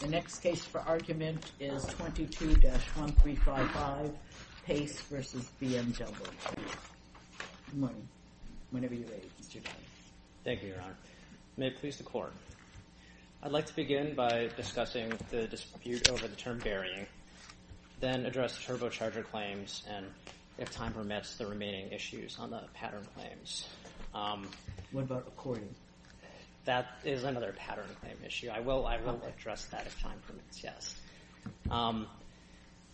The next case for argument is 22-1355, Pace v. BMW. Good morning. Whenever you're ready, Mr. Daly. Thank you, Your Honor. May it please the Court. I'd like to begin by discussing the dispute over the term burying, then address the turbocharger claims, and if time permits, the remaining issues on the pattern claims. What about recording? That is another pattern claim issue. I will address that if time permits, yes.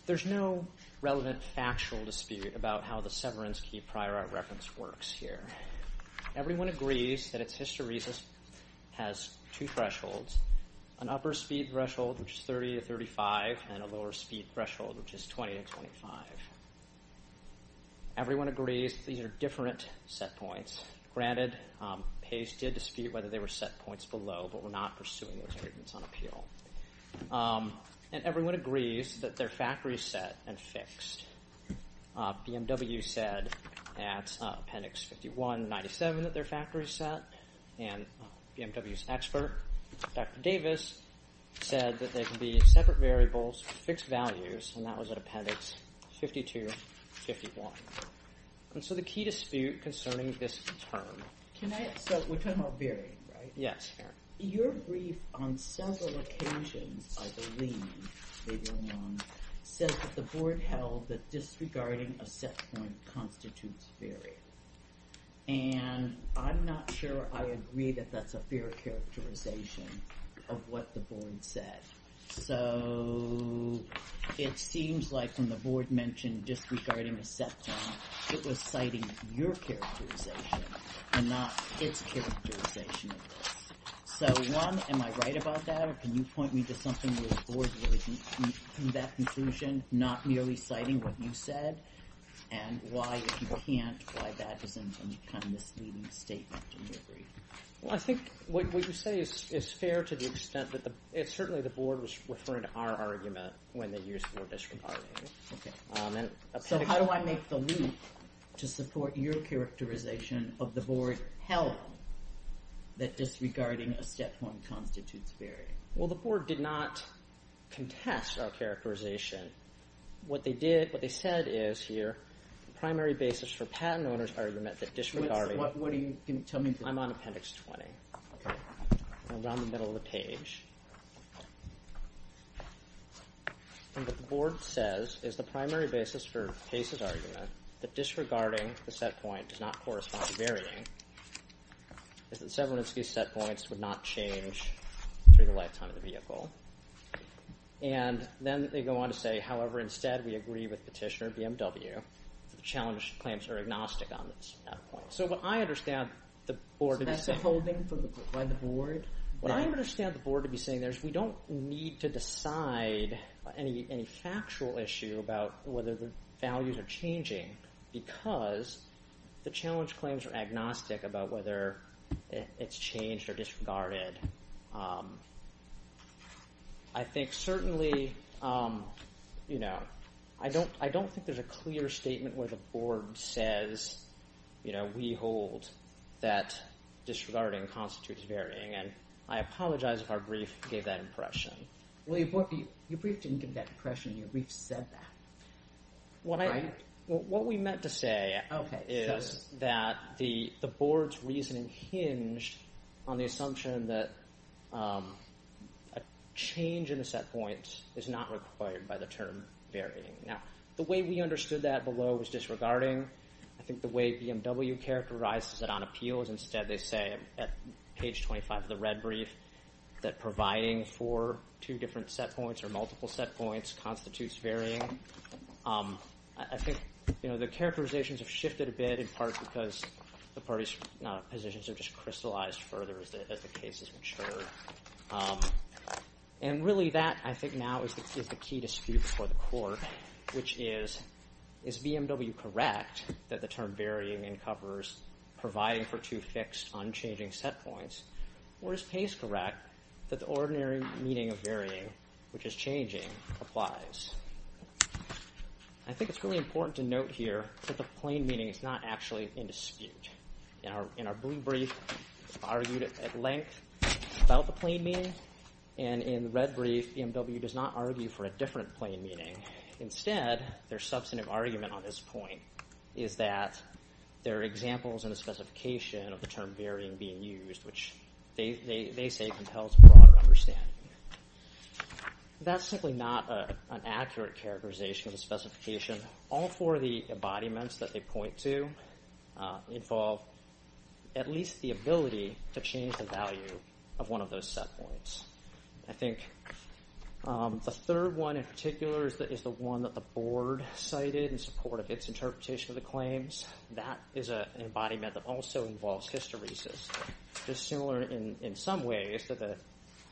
There's no relevant factual dispute about how the severance key prior art reference works here. Everyone agrees that its history has two thresholds, an upper speed threshold, which is 30 to 35, and a lower speed threshold, which is 20 to 25. Everyone agrees these are different set points. Granted, Pace did dispute whether they were set points below, but we're not pursuing those arguments on appeal. And everyone agrees that they're factory set and fixed. BMW said at Appendix 51-97 that they're factory set, and BMW's expert, Dr. Davis, said that they can be separate variables with fixed values, and that was at Appendix 52-51. And so the key dispute concerning this term. So we're talking about burying, right? Yes. Your brief on several occasions, I believe, says that the board held that disregarding a set point constitutes burying. And I'm not sure I agree that that's a fair characterization of what the board said. So it seems like when the board mentioned disregarding a set point, it was citing your characterization and not its characterization of this. So, one, am I right about that, or can you point me to something where the board really came to that conclusion, not merely citing what you said? And why, if you can't, why that doesn't become this leading statement in your brief? Well, I think what you say is fair to the extent that certainly the board was referring to our argument when they used the word disregarding. Okay. So how do I make the leap to support your characterization of the board's health that disregarding a set point constitutes burying? Well, the board did not contest our characterization. What they did, what they said is here, the primary basis for patent owner's argument that disregarding I'm on appendix 20. I'm around the middle of the page. And what the board says is the primary basis for Pace's argument that disregarding the set point does not correspond to burying is that Severinsky's set points would not change through the lifetime of the vehicle. And then they go on to say, however, instead we agree with petitioner BMW the challenge claims are agnostic on this set point. So what I understand the board to be saying So that's a holding by the board? What I understand the board to be saying there is we don't need to decide any factual issue about whether the values are changing because the challenge claims are agnostic about whether it's changed or disregarded. I think certainly, you know, I don't think there's a clear statement where the board says, you know, we hold that disregarding constitutes burying. And I apologize if our brief gave that impression. Well, your brief didn't give that impression. Your brief said that. What we meant to say is that the board's reasoning hinged on the assumption that a change in the set point is not required by the term burying. Now, the way we understood that below was disregarding. I think the way BMW characterizes it on appeal is instead they say at page 25 of the red brief that providing for two different set points or multiple set points constitutes burying. I think, you know, the characterizations have shifted a bit in part because the parties' positions have just crystallized further as the case has matured. And really that, I think, now is the key dispute before the court, which is, is BMW correct that the term burying encovers providing for two fixed, unchanging set points? Or is Pace correct that the ordinary meaning of burying, which is changing, applies? I think it's really important to note here that the plain meaning is not actually in dispute. In our blue brief, it's argued at length about the plain meaning. And in the red brief, BMW does not argue for a different plain meaning. Instead, their substantive argument on this point is that there are examples in the specification of the term burying being used, which they say compels broader understanding. That's simply not an accurate characterization of the specification. All four of the embodiments that they point to involve at least the ability to change the value of one of those set points. I think the third one in particular is the one that the board cited in support of its interpretation of the claims. That is an embodiment that also involves hysteresis, just similar in some ways to the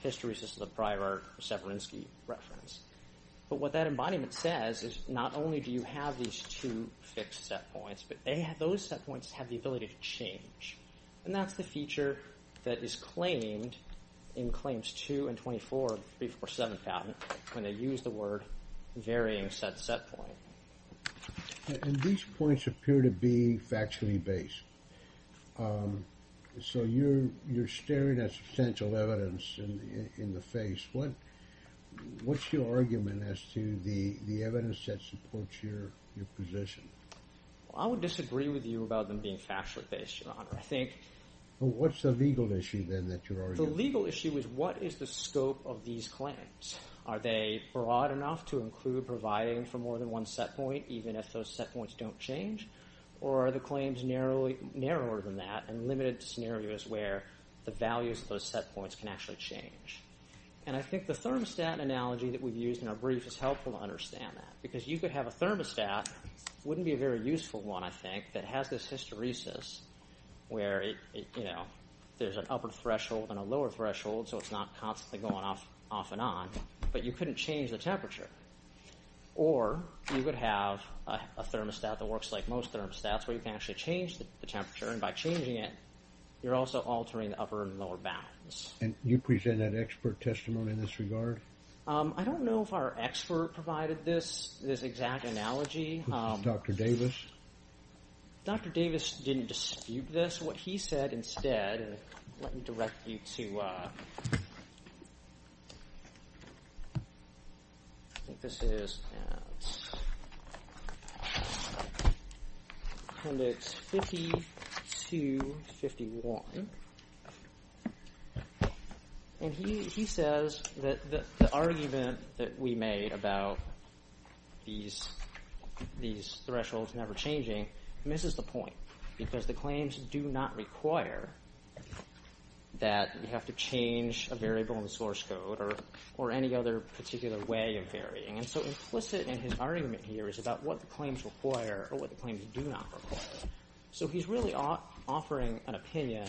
hysteresis of the prior Severinsky reference. But what that embodiment says is not only do you have these two fixed set points, but those set points have the ability to change. And that's the feature that is claimed in Claims 2 and 24 of 347 patent when they use the word burying set set point. And these points appear to be factually based. So you're staring at substantial evidence in the face. What's your argument as to the evidence that supports your position? I would disagree with you about them being factually based, Your Honor. What's the legal issue then that you're arguing? The legal issue is what is the scope of these claims? Are they broad enough to include providing for more than one set point even if those set points don't change? Or are the claims narrower than that and limited to scenarios where the values of those set points can actually change? And I think the thermostat analogy that we've used in our brief is helpful to understand that because you could have a thermostat. It wouldn't be a very useful one, I think, that has this hysteresis where there's an upper threshold and a lower threshold, so it's not constantly going off and on, but you couldn't change the temperature. Or you could have a thermostat that works like most thermostats where you can actually change the temperature, and by changing it, you're also altering the upper and lower bounds. And you present an expert testimony in this regard? I don't know if our expert provided this exact analogy. Dr. Davis? Dr. Davis didn't dispute this. This is what he said instead. Let me direct you to 5251. And he says that the argument that we made about these thresholds never changing misses the point because the claims do not require that you have to change a variable in the source code or any other particular way of varying. And so implicit in his argument here is about what the claims require or what the claims do not require. So he's really offering an opinion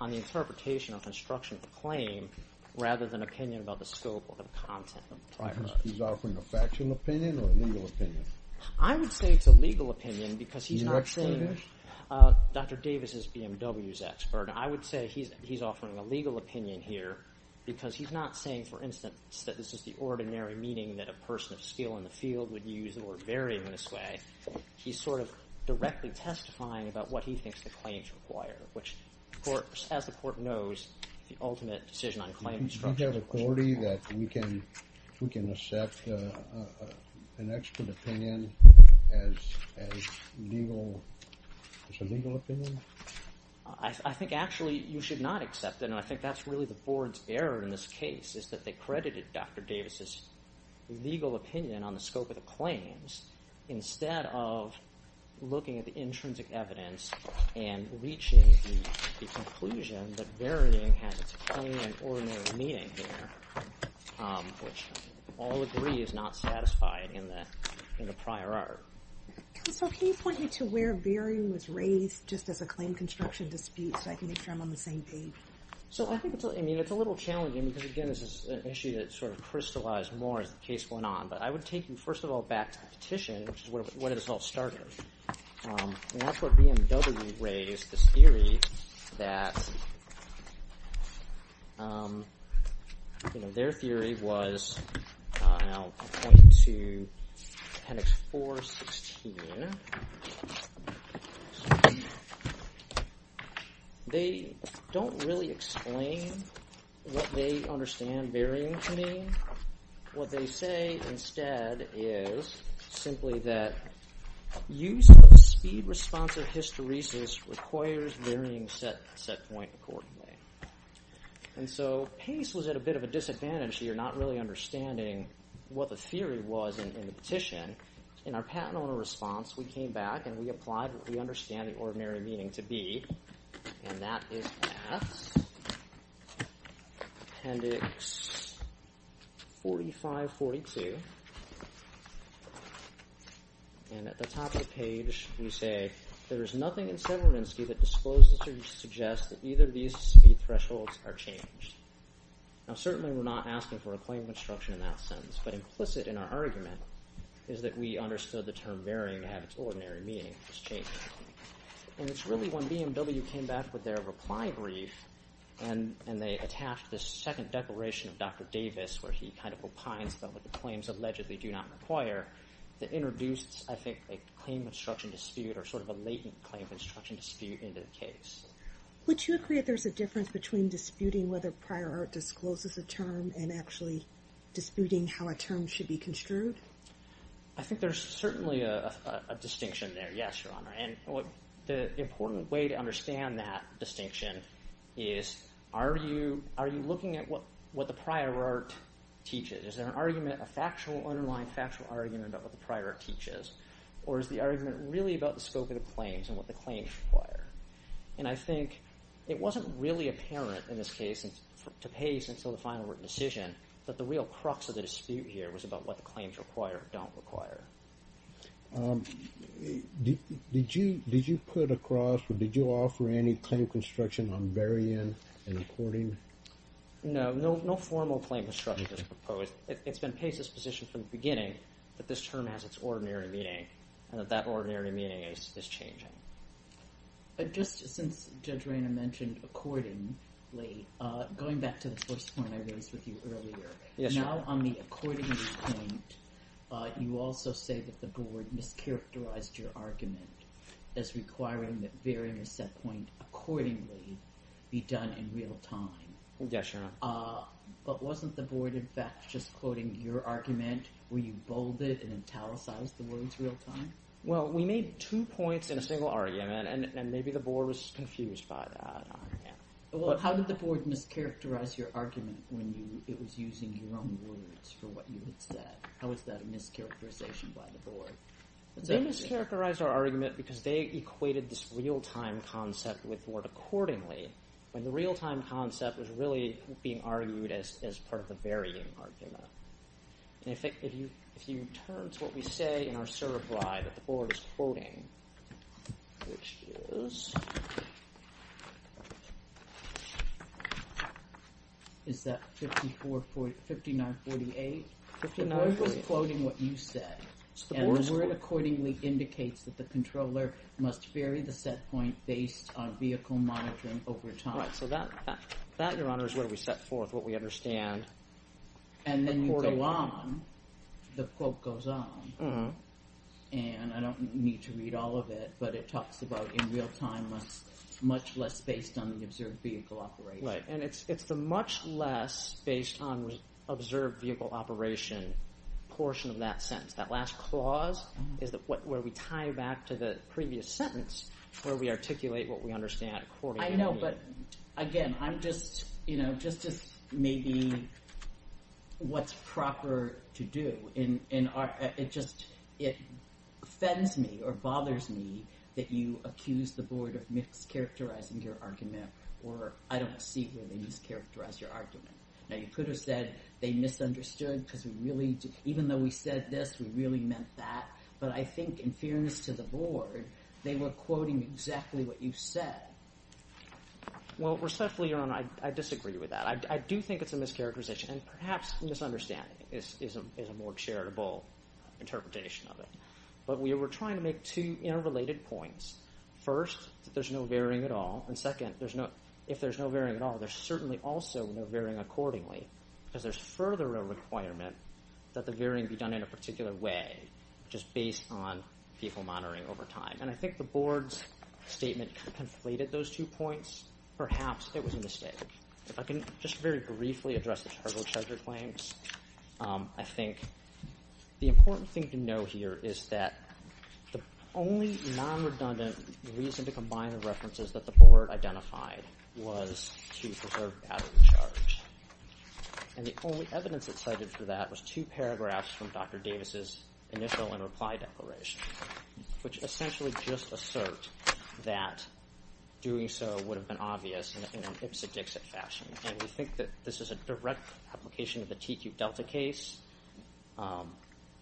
on the interpretation or construction of the claim rather than an opinion about the scope or the content of the claim. He's offering a factual opinion or a legal opinion? I would say it's a legal opinion because he's not saying Dr. Davis is BMW's expert. I would say he's offering a legal opinion here because he's not saying, for instance, that this is the ordinary meaning that a person of skill in the field would use or vary in this way. He's sort of directly testifying about what he thinks the claims require, which, of course, as the court knows, the ultimate decision on claims Do you have authority that we can accept an expert opinion as a legal opinion? I think actually you should not accept it, and I think that's really the board's error in this case is that they credited Dr. Davis's legal opinion on the scope of the claims instead of looking at the intrinsic evidence and reaching the conclusion that varying has its plain and ordinary meaning here, which all agree is not satisfied in the prior art. Counsel, can you point me to where varying was raised just as a claim construction dispute so I can make sure I'm on the same page? So I think it's a little challenging because, again, this is an issue that sort of crystallized more as the case went on, but I would take you first of all back to the petition, which is where this all started. And that's where BMW raised this theory that their theory was, and I'll point to appendix 416. They don't really explain what they understand varying to mean. What they say instead is simply that use of speed response or hysteresis requires varying set point accordingly. And so Pace was at a bit of a disadvantage here, not really understanding what the theory was in the petition. In our patent owner response, we came back, and we applied what we understand the ordinary meaning to be, and that is at appendix 4542. And at the top of the page, we say, there is nothing in Severinsky that discloses or suggests that either of these speed thresholds are changed. Now certainly we're not asking for a claim construction in that sentence, but implicit in our argument is that we understood the term varying to have its ordinary meaning. And it's really when BMW came back with their reply brief, and they attached this second declaration of Dr. Davis, where he kind of opines about what the claims allegedly do not require, that introduced, I think, a claim construction dispute or sort of a latent claim construction dispute into the case. Would you agree that there's a difference between disputing whether prior art discloses a term and actually disputing how a term should be construed? I think there's certainly a distinction there, yes, Your Honor. And the important way to understand that distinction is, are you looking at what the prior art teaches? Is there an argument, a factual underlying factual argument, about what the prior art teaches? Or is the argument really about the scope of the claims and what the claims require? And I think it wasn't really apparent in this case, to pace until the final written decision, that the real crux of the dispute here was about what the claims require or don't require. Did you put across or did you offer any claim construction on very end and according? No, no formal claim construction was proposed. It's been paced disposition from the beginning that this term has its ordinary meaning and that that ordinary meaning is changing. Just since Judge Rayner mentioned accordingly, going back to the first point I raised with you earlier, now on the accordingly point, you also say that the board mischaracterized your argument as requiring that very intercept point accordingly be done in real time. Yes, Your Honor. But wasn't the board, in fact, just quoting your argument where you bolded and italicized the words real time? Well, we made two points in a single argument and maybe the board was confused by that. Well, how did the board mischaracterize your argument when it was using your own words for what you had said? How was that a mischaracterization by the board? They mischaracterized our argument because they equated this real-time concept with word accordingly when the real-time concept was really being argued as part of a varying argument. And if you return to what we say in our certify that the board is quoting, which is... Is that 5948? 5948. The board was quoting what you said. And the word accordingly indicates that the controller must vary the set point based on vehicle monitoring over time. Right, so that, Your Honor, is what we set forth, what we understand. And then you go on. The quote goes on. And I don't need to read all of it, but it talks about in real time much less based on the observed vehicle operation. Right, and it's the much less based on observed vehicle operation portion of that sentence. That last clause is where we tie back to the previous sentence where we articulate what we understand accordingly. I know, but, again, I'm just, you know, just maybe what's proper to do. It just offends me or bothers me that you accuse the board of mischaracterizing your argument or I don't see where they mischaracterized your argument. Now, you could have said they misunderstood because even though we said this, we really meant that. But I think in fairness to the board, they were quoting exactly what you said. Well, respectfully, Your Honor, I disagree with that. I do think it's a mischaracterization. And perhaps misunderstanding is a more charitable interpretation of it. But we were trying to make two interrelated points. First, that there's no varying at all. And second, if there's no varying at all, there's certainly also no varying accordingly because there's further a requirement that the varying be done in a particular way just based on vehicle monitoring over time. And I think the board's statement conflated those two points. Perhaps it was a mistake. If I can just very briefly address the charged with charger claims, I think the important thing to know here is that the only non-redundant reason to combine the references that the board identified was to preserve battery charge. And the only evidence that cited for that was two paragraphs from Dr. Davis' initial and reply declaration, which essentially just assert that doing so would have been obvious in an ipsodixit fashion. And we think that this is a direct application of the TQ Delta case.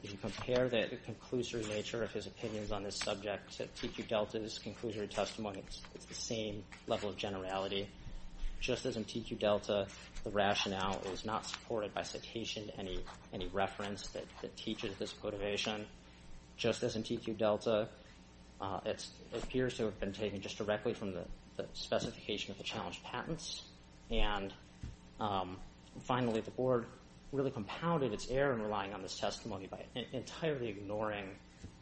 If you compare the conclusory nature of his opinions on this subject to TQ Delta's conclusory testimony, it's the same level of generality. Just as in TQ Delta, the rationale is not supported by citation to any reference that teaches this motivation, just as in TQ Delta it appears to have been taken just directly from the specification of the challenged patents. And finally, the board really compounded its error in relying on this testimony by entirely ignoring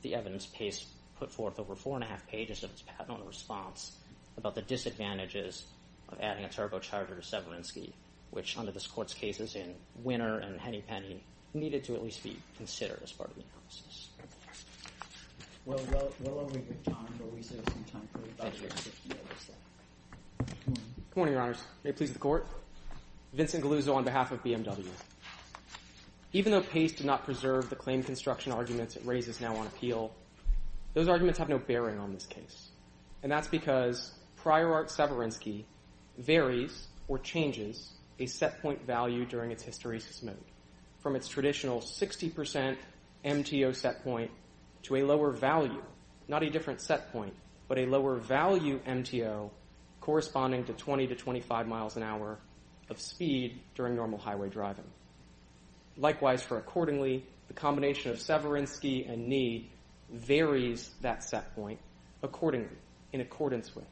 the evidence Pace put forth over 4 1⁄2 pages of its patent on the response about the disadvantages of adding a turbocharger to Severinsky, which under this Court's cases in Winner and Henny Penny needed to at least be considered as part of the analysis. Well, while we have time, why don't we save some time for the budget? Good morning, Your Honors. May it please the Court? Vincent Galuzzo on behalf of BMW. Even though Pace did not preserve the claim construction arguments it raises now on appeal, those arguments have no bearing on this case. And that's because prior art Severinsky varies or changes a set point value during its hysteresis mode from its traditional 60% MTO set point to a lower value, not a different set point, but a lower value MTO corresponding to 20 to 25 miles an hour of speed during normal highway driving. Likewise for accordingly, the combination of Severinsky and knee varies that set point accordingly, in accordance with,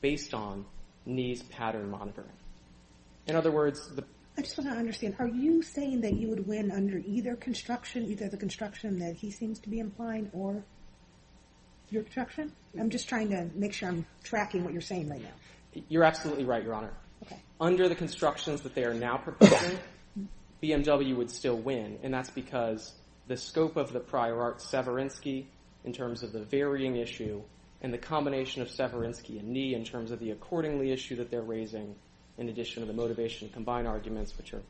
based on knees pattern monitoring. In other words... I just want to understand. Are you saying that you would win under either construction, either the construction that he seems to be implying or your construction? I'm just trying to make sure I'm tracking what you're saying right now. You're absolutely right, Your Honor. Under the constructions that they are now proposing, BMW would still win. And that's because the scope of the prior art Severinsky in terms of the varying issue and the combination of Severinsky and knee in terms of the accordingly issue that they're raising in addition to the motivation to combine arguments, which are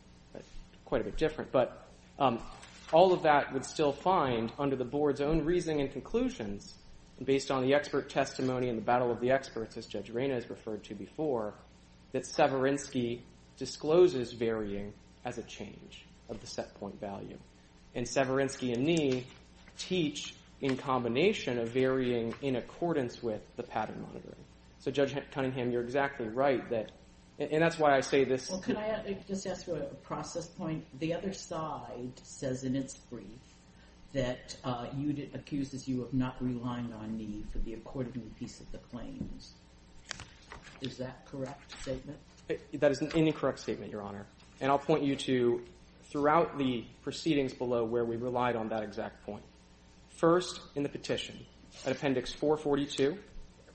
quite a bit different. But all of that would still find, under the board's own reasoning and conclusions, based on the expert testimony and the battle of the experts, as Judge Reina has referred to before, that Severinsky discloses varying as a change of the set point value. And Severinsky and knee teach in combination of varying in accordance with the pattern monitoring. So, Judge Cunningham, you're exactly right. And that's why I say this. Well, can I just ask for a process point? The other side says in its brief that you accused as you of not relying on knee for the accordingly piece of the claims. Is that correct statement? That is an incorrect statement, Your Honor. And I'll point you to throughout the proceedings below where we relied on that exact point. First, in the petition, at Appendix 442.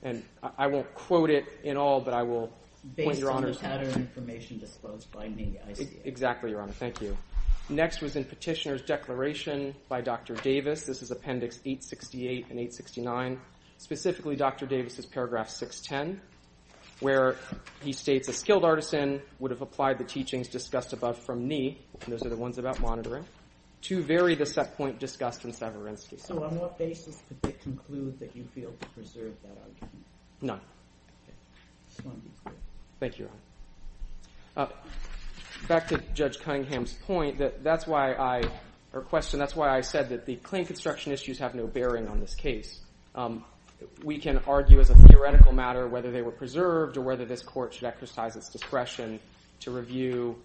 And I won't quote it in all, but I will... Based on the pattern information disclosed by knee, I see it. Exactly, Your Honor. Thank you. Next was in Petitioner's Declaration by Dr. Davis. This is Appendix 868 and 869. Specifically, Dr. Davis's paragraph 610, where he states a skilled artisan would have applied the teachings discussed above from knee, and those are the ones about monitoring, to vary the set point discussed in Severinsky. So on what basis did they conclude that you failed to preserve that argument? Thank you, Your Honor. Back to Judge Cunningham's point, that's why I... Or question, that's why I said that the claim construction issues have no bearing on this case. We can argue as a theoretical matter whether they were preserved or whether this court should exercise its discretion to review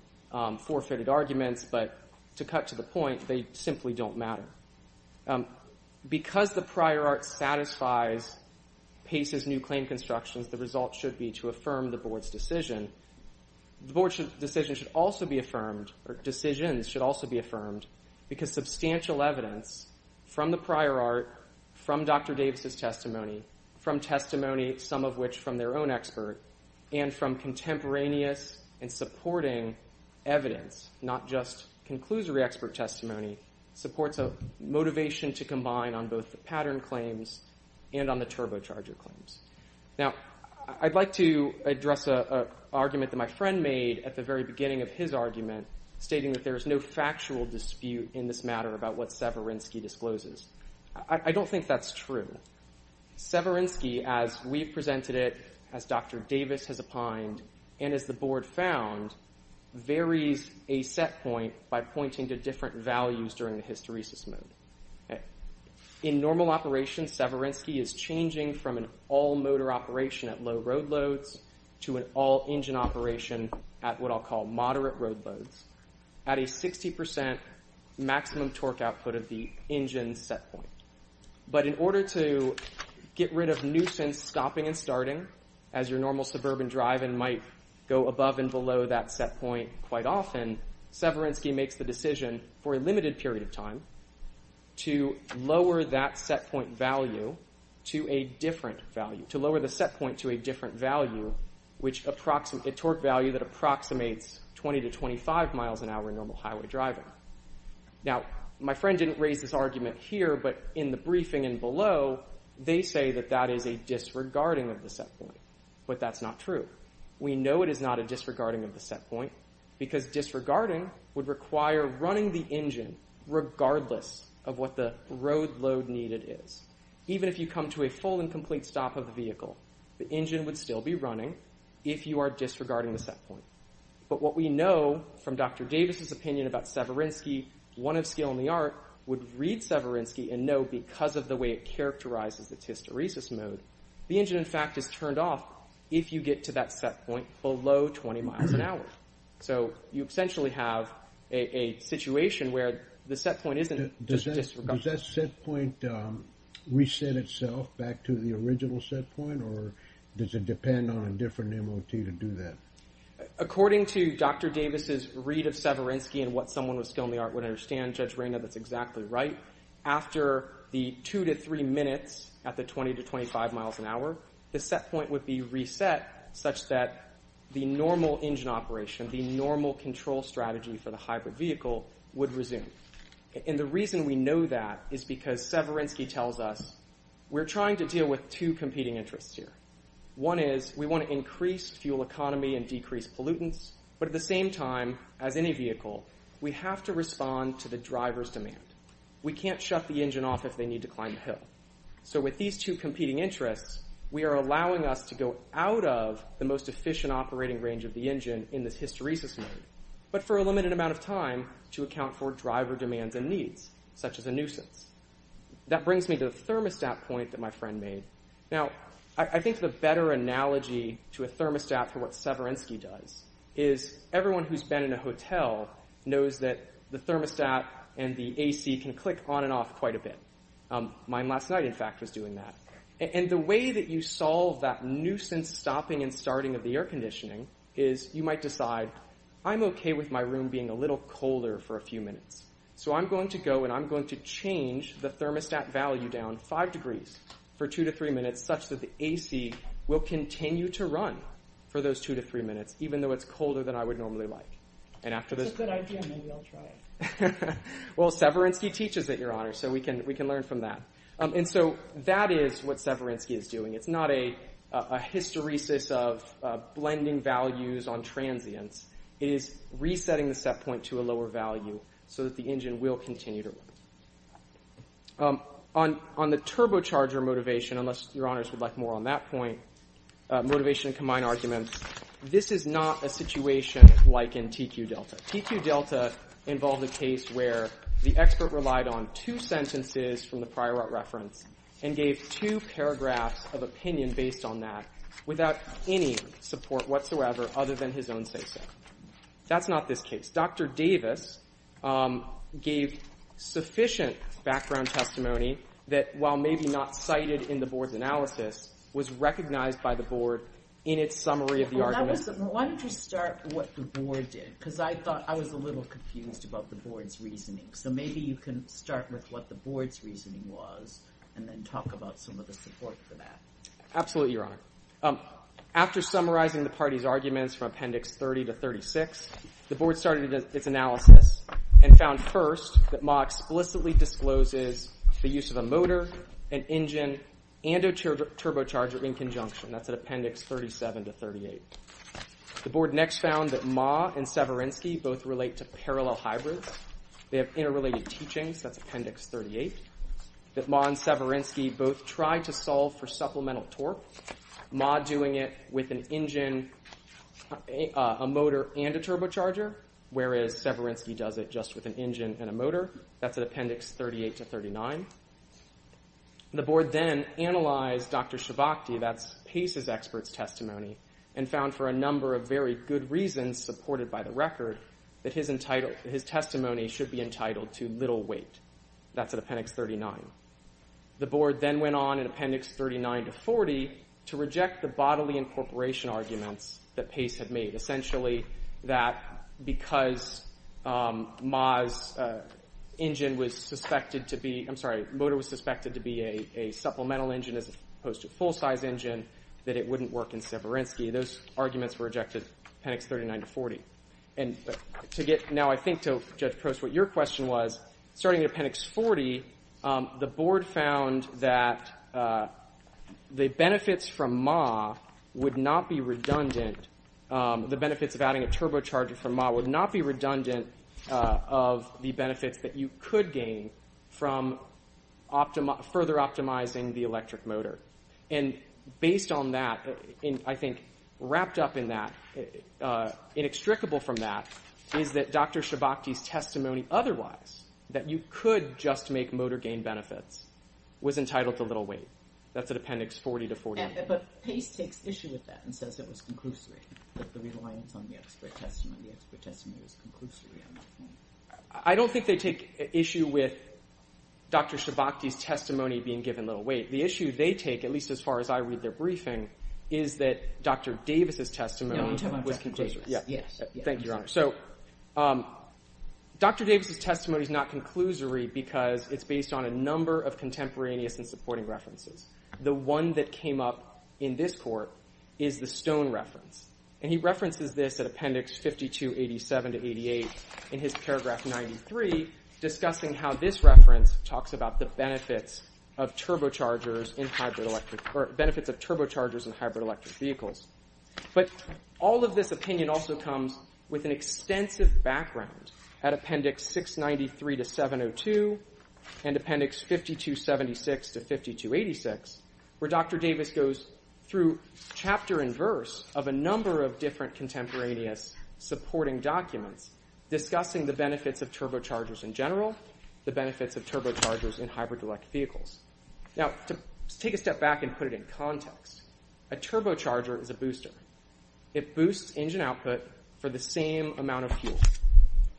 forfeited arguments, but to cut to the point, they simply don't matter. Because the prior art satisfies Pace's new claim constructions, the result should be to affirm the Board's decision. The Board's decision should also be affirmed, or decisions should also be affirmed, because substantial evidence from the prior art, from Dr. Davis's testimony, from testimony, some of which from their own expert, and from contemporaneous and supporting evidence, not just conclusory expert testimony, supports a motivation to combine on both the pattern claims and on the turbocharger claims. Now, I'd like to address an argument that my friend made at the very beginning of his argument, stating that there is no factual dispute in this matter about what Severinsky discloses. I don't think that's true. Severinsky, as we've presented it, as Dr. Davis has opined, and as the Board found, varies a set point by pointing to different values during the hysteresis mode. In normal operation, Severinsky is changing from an all-motor operation at low road loads to an all-engine operation at what I'll call moderate road loads at a 60% maximum torque output of the engine set point. But in order to get rid of nuisance stopping and starting, as your normal suburban driving might go above and below that set point quite often, Severinsky makes the decision for a limited period of time to lower that set point value to a different value, to lower the set point to a different value, a torque value that approximates 20 to 25 miles an hour in normal highway driving. Now, my friend didn't raise this argument here, but in the briefing and below, they say that that is a disregarding of the set point, but that's not true. We know it is not a disregarding of the set point because disregarding would require running the engine regardless of what the road load needed is. Even if you come to a full and complete stop of the vehicle, the engine would still be running if you are disregarding the set point. But what we know from Dr. Davis's opinion about Severinsky, one of skill in the art, would read Severinsky and know because of the way it characterizes its hysteresis mode, the engine, in fact, is turned off if you get to that set point below 20 miles an hour. So you essentially have a situation where the set point isn't just disregarding. Does that set point reset itself back to the original set point or does it depend on a different MOT to do that? According to Dr. Davis's read of Severinsky and what someone with skill in the art would understand, Judge Reyna, that's exactly right, after the 2 to 3 minutes at the 20 to 25 miles an hour, the set point would be reset such that the normal engine operation, the normal control strategy for the hybrid vehicle would resume. And the reason we know that is because Severinsky tells us we're trying to deal with two competing interests here. One is we want to increase fuel economy and decrease pollutants, but at the same time, as any vehicle, we have to respond to the driver's demand. We can't shut the engine off if they need to climb a hill. So with these two competing interests, we are allowing us to go out of the most efficient operating range of the engine in this hysteresis mode, but for a limited amount of time to account for driver demands and needs, such as a nuisance. That brings me to the thermostat point that my friend made. Now, I think the better analogy to a thermostat for what Severinsky does is everyone who's been in a hotel knows that the thermostat and the A.C. can click on and off quite a bit. Mine last night, in fact, was doing that. And the way that you solve that nuisance stopping and starting of the air conditioning is you might decide, I'm okay with my room being a little colder for a few minutes, so I'm going to go and I'm going to change the thermostat value down 5 degrees for 2 to 3 minutes such that the A.C. will continue to run for those 2 to 3 minutes, even though it's colder than I would normally like. And after those... It's a good idea. Maybe I'll try it. Well, Severinsky teaches it, Your Honor, so we can learn from that. And so that is what Severinsky is doing. It's not a hysteresis of blending values on transients. It is resetting the set point to a lower value so that the engine will continue to run. On the turbocharger motivation, unless Your Honors would like more on that point, motivation and combined arguments, this is not a situation like in TQ-Delta. TQ-Delta involved a case where the expert relied on 2 sentences from the prior reference and gave 2 paragraphs of opinion based on that without any support whatsoever other than his own say-so. That's not this case. Dr. Davis gave sufficient background testimony that while maybe not cited in the board's analysis, was recognized by the board in its summary of the argument. Why don't you start with what the board did? Because I thought I was a little confused about the board's reasoning. So maybe you can start with what the board's reasoning was and then talk about some of the support for that. Absolutely, Your Honor. After summarizing the party's arguments from Appendix 30 to 36, the board started its analysis and found first that Ma explicitly discloses the use of a motor, an engine, and a turbocharger in conjunction. That's at Appendix 37 to 38. The board next found that Ma and Severinsky both relate to parallel hybrids. They have interrelated teachings. That's Appendix 38. That Ma and Severinsky both tried to solve for supplemental torque. Ma doing it with an engine, a motor, and a turbocharger, whereas Severinsky does it just with an engine and a motor. That's at Appendix 38 to 39. The board then analyzed Dr. Shabachty, that's Pace's expert's testimony, and found for a number of very good reasons supported by the record that his testimony should be entitled to little weight. That's at Appendix 39. The board then went on in Appendix 39 to 40 to reject the bodily incorporation arguments that Pace had made, essentially that because Ma's engine was suspected to be, I'm sorry, motor was suspected to be a supplemental engine as opposed to a full-size engine, that it wouldn't work in Severinsky. Those arguments were rejected, Appendix 39 to 40. And to get now, I think, to Judge Crouse, what your question was, starting at Appendix 40, the board found that the benefits from Ma would not be redundant. The benefits of adding a turbocharger from Ma would not be redundant of the benefits that you could gain from further optimizing the electric motor. And based on that, I think, wrapped up in that, inextricable from that, is that Dr. Shabachty's testimony otherwise, that you could just make motor gain benefits, was entitled to little weight. That's at Appendix 40 to 49. But Pace takes issue with that and says it was conclusory, that the reliance on the expert testimony, the expert testimony was conclusory. I don't think they take issue with Dr. Shabachty's testimony being given little weight. The issue they take, at least as far as I read their briefing, is that Dr. Davis' testimony was conclusory. Yes. Thank you, Your Honor. So Dr. Davis' testimony is not conclusory because it's based on a number of contemporaneous and supporting references. The one that came up in this court is the Stone reference. And he references this at Appendix 5287 to 88 in his paragraph 93, discussing how this reference talks about the benefits of turbochargers in hybrid electric... or benefits of turbochargers in hybrid electric vehicles. But all of this opinion also comes with an extensive background at Appendix 693 to 702 and Appendix 5276 to 5286, where Dr. Davis goes through chapter and verse of a number of different contemporaneous supporting documents discussing the benefits of turbochargers in general, the benefits of turbochargers in hybrid electric vehicles. Now, to take a step back and put it in context, a turbocharger is a booster. It boosts engine output for the same amount of fuel.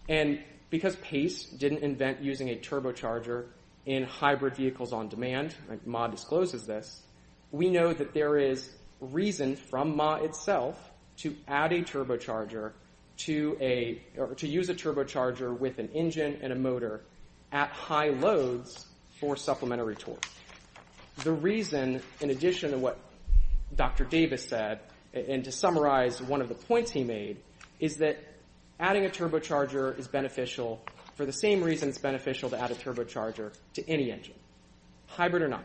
And because Pace didn't invent using a turbocharger in hybrid vehicles on demand, like Ma discloses this, we know that there is reason from Ma itself to add a turbocharger to a... or to use a turbocharger with an engine and a motor at high loads for supplementary torque. The reason, in addition to what Dr. Davis said, and to summarize one of the points he made, is that adding a turbocharger is beneficial for the same reason it's beneficial to add a turbocharger to any engine, hybrid or not.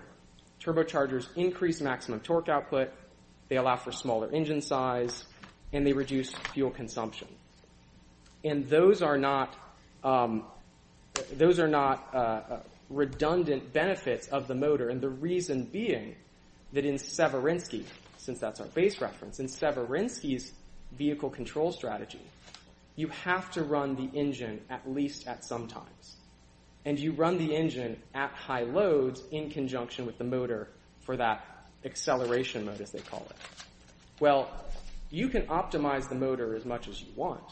Turbochargers increase maximum torque output, they allow for smaller engine size, and they reduce fuel consumption. And those are not... those are not redundant benefits of the motor, and the reason being that in Severinsky, since that's our base reference, since Severinsky's vehicle control strategy, you have to run the engine at least at some times. And you run the engine at high loads in conjunction with the motor for that acceleration mode, as they call it. Well, you can optimize the motor as much as you want,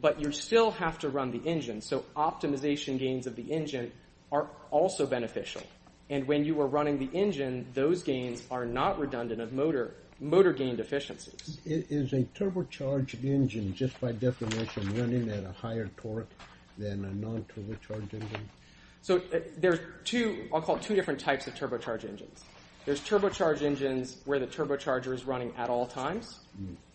but you still have to run the engine, so optimization gains of the engine are also beneficial. And when you are running the engine, then those gains are not redundant of motor gain deficiencies. Is a turbocharged engine just by definition running at a higher torque than a non-turbocharged engine? So there's two... I'll call it two different types of turbocharged engines. There's turbocharged engines where the turbocharger is running at all times,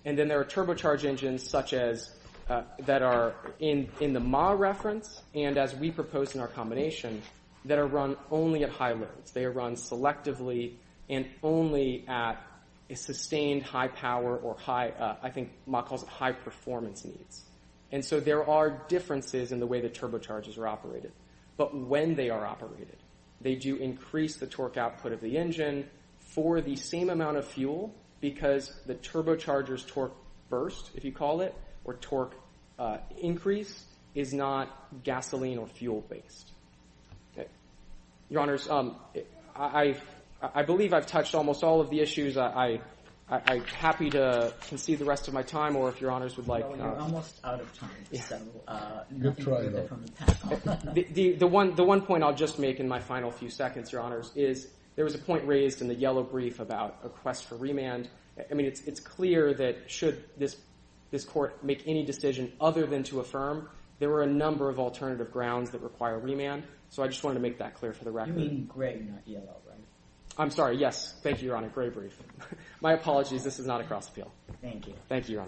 and then there are turbocharged engines such as... that are in the MAW reference, and as we propose in our combination, that are run only at high loads. They are run selectively and only at a sustained high power or high... I think MAW calls it high performance needs. And so there are differences in the way the turbochargers are operated. But when they are operated, they do increase the torque output of the engine for the same amount of fuel because the turbocharger's torque burst, if you call it, or torque increase, is not gasoline or fuel-based. Your Honours, I believe I've touched almost all of the issues. I'm happy to concede the rest of my time, or if Your Honours would like... You're almost out of time. Good try, though. The one point I'll just make in my final few seconds, Your Honours, is there was a point raised in the yellow brief about a quest for remand. I mean, it's clear that should this court make any decision other than to affirm, there are a number of alternative grounds that require remand. So I just wanted to make that clear for the record. You mean gray in that yellow, right? I'm sorry, yes. Thank you, Your Honour. Gray brief. My apologies, this is not a cross-appeal. Thank you. Thank you, Your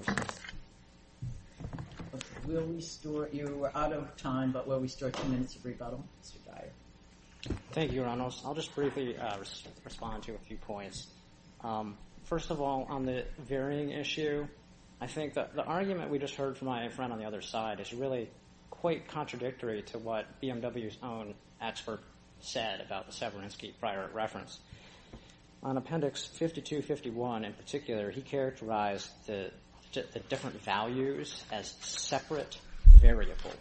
Honours. We're out of time, but will we start ten minutes of rebuttal? Mr. Dyer. Thank you, Your Honours. I'll just briefly respond to a few points. First of all, on the varying issue, I think that the argument we just heard from my friend on the other side is really quite contradictory to what BMW's own expert said about the Severinsky prior reference. On Appendix 5251 in particular, he characterized the different values as separate variables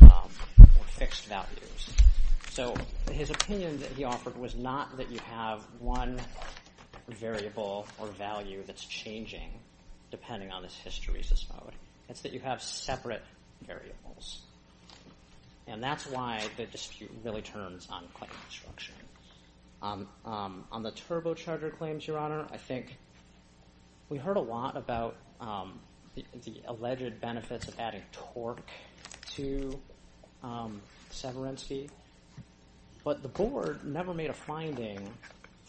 or fixed values. So his opinion that he offered was not that you have one variable or value that's changing depending on this history, it's that you have separate variables. And that's why the dispute really turns on claim construction. On the turbocharger claims, Your Honour, I think we heard a lot about the alleged benefits of adding torque to Severinsky, but the board never made a finding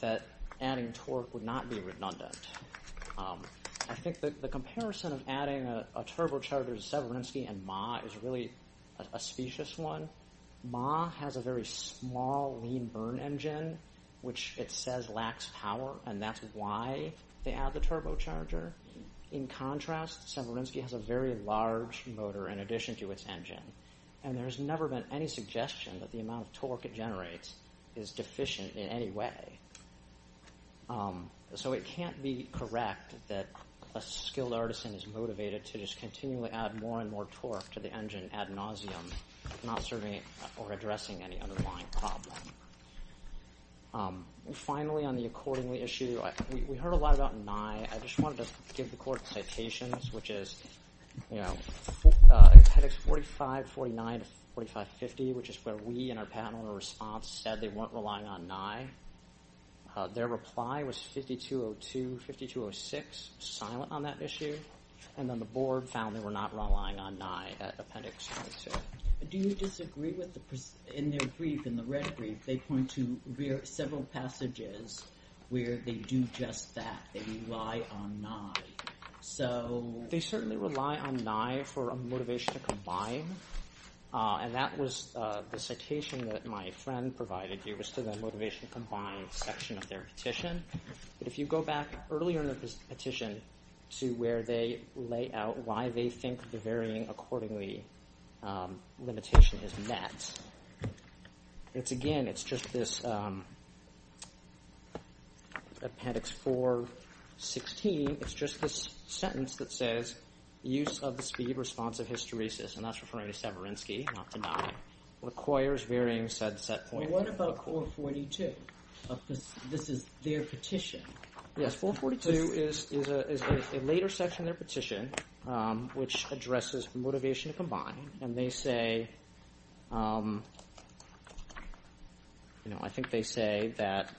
that adding torque would not be redundant. I think the comparison of adding a turbocharger to Severinsky and MAH is really a specious one. MAH has a very small lean burn engine, which it says lacks power, and that's why they add the turbocharger. In contrast, Severinsky has a very large motor in addition to its engine, and there's never been any suggestion that the amount of torque it generates is deficient in any way. So it can't be correct that a skilled artisan is motivated to just continually add more and more torque to the engine ad nauseum, not serving or addressing any underlying problem. Finally, on the accordingly issue, we heard a lot about NYE. I just wanted to give the court citations, which is, you know, appendix 4549 to 4550, which is where we in our panel in response said they weren't relying on NYE. Their reply was 5202, 5206, silent on that issue, and then the board found they were not relying on NYE at appendix 42. Do you disagree with the... In their brief, in the red brief, they point to several passages where they do just that, they rely on NYE. So... They certainly rely on NYE for a motivation to combine, and that was the citation that my friend provided here was to the motivation to combine section of their petition. But if you go back earlier in the petition to where they lay out why they think the varying accordingly limitation is met, it's again, it's just this... Appendix 416, it's just this sentence that says, use of the speed response of hysteresis, and that's referring to Severinsky, not to NYE, requires varying said set point. What about 442? This is their petition. Yes, 442 is a later section of their petition which addresses motivation to combine, and they say... I think they say that...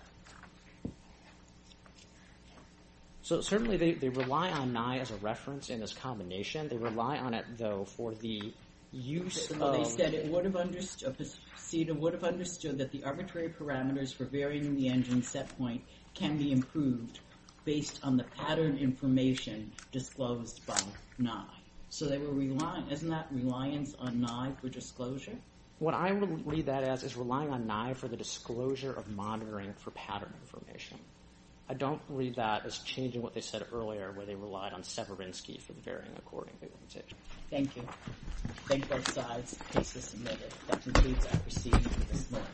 So certainly they rely on NYE as a reference in this combination. They rely on it, though, for the use of... Well, they said it would have understood... CEDA would have understood that the arbitrary parameters for varying the engine set point can be improved based on the pattern information disclosed by NYE. So they were relying... Isn't that reliance on NYE for disclosure? What I would read that as is relying on NYE for the disclosure of monitoring for pattern information. I don't read that as changing what they said earlier where they relied on Severinsky for varying accordingly. Thank you. Thank both sides. The case is submitted. That concludes our proceedings this morning.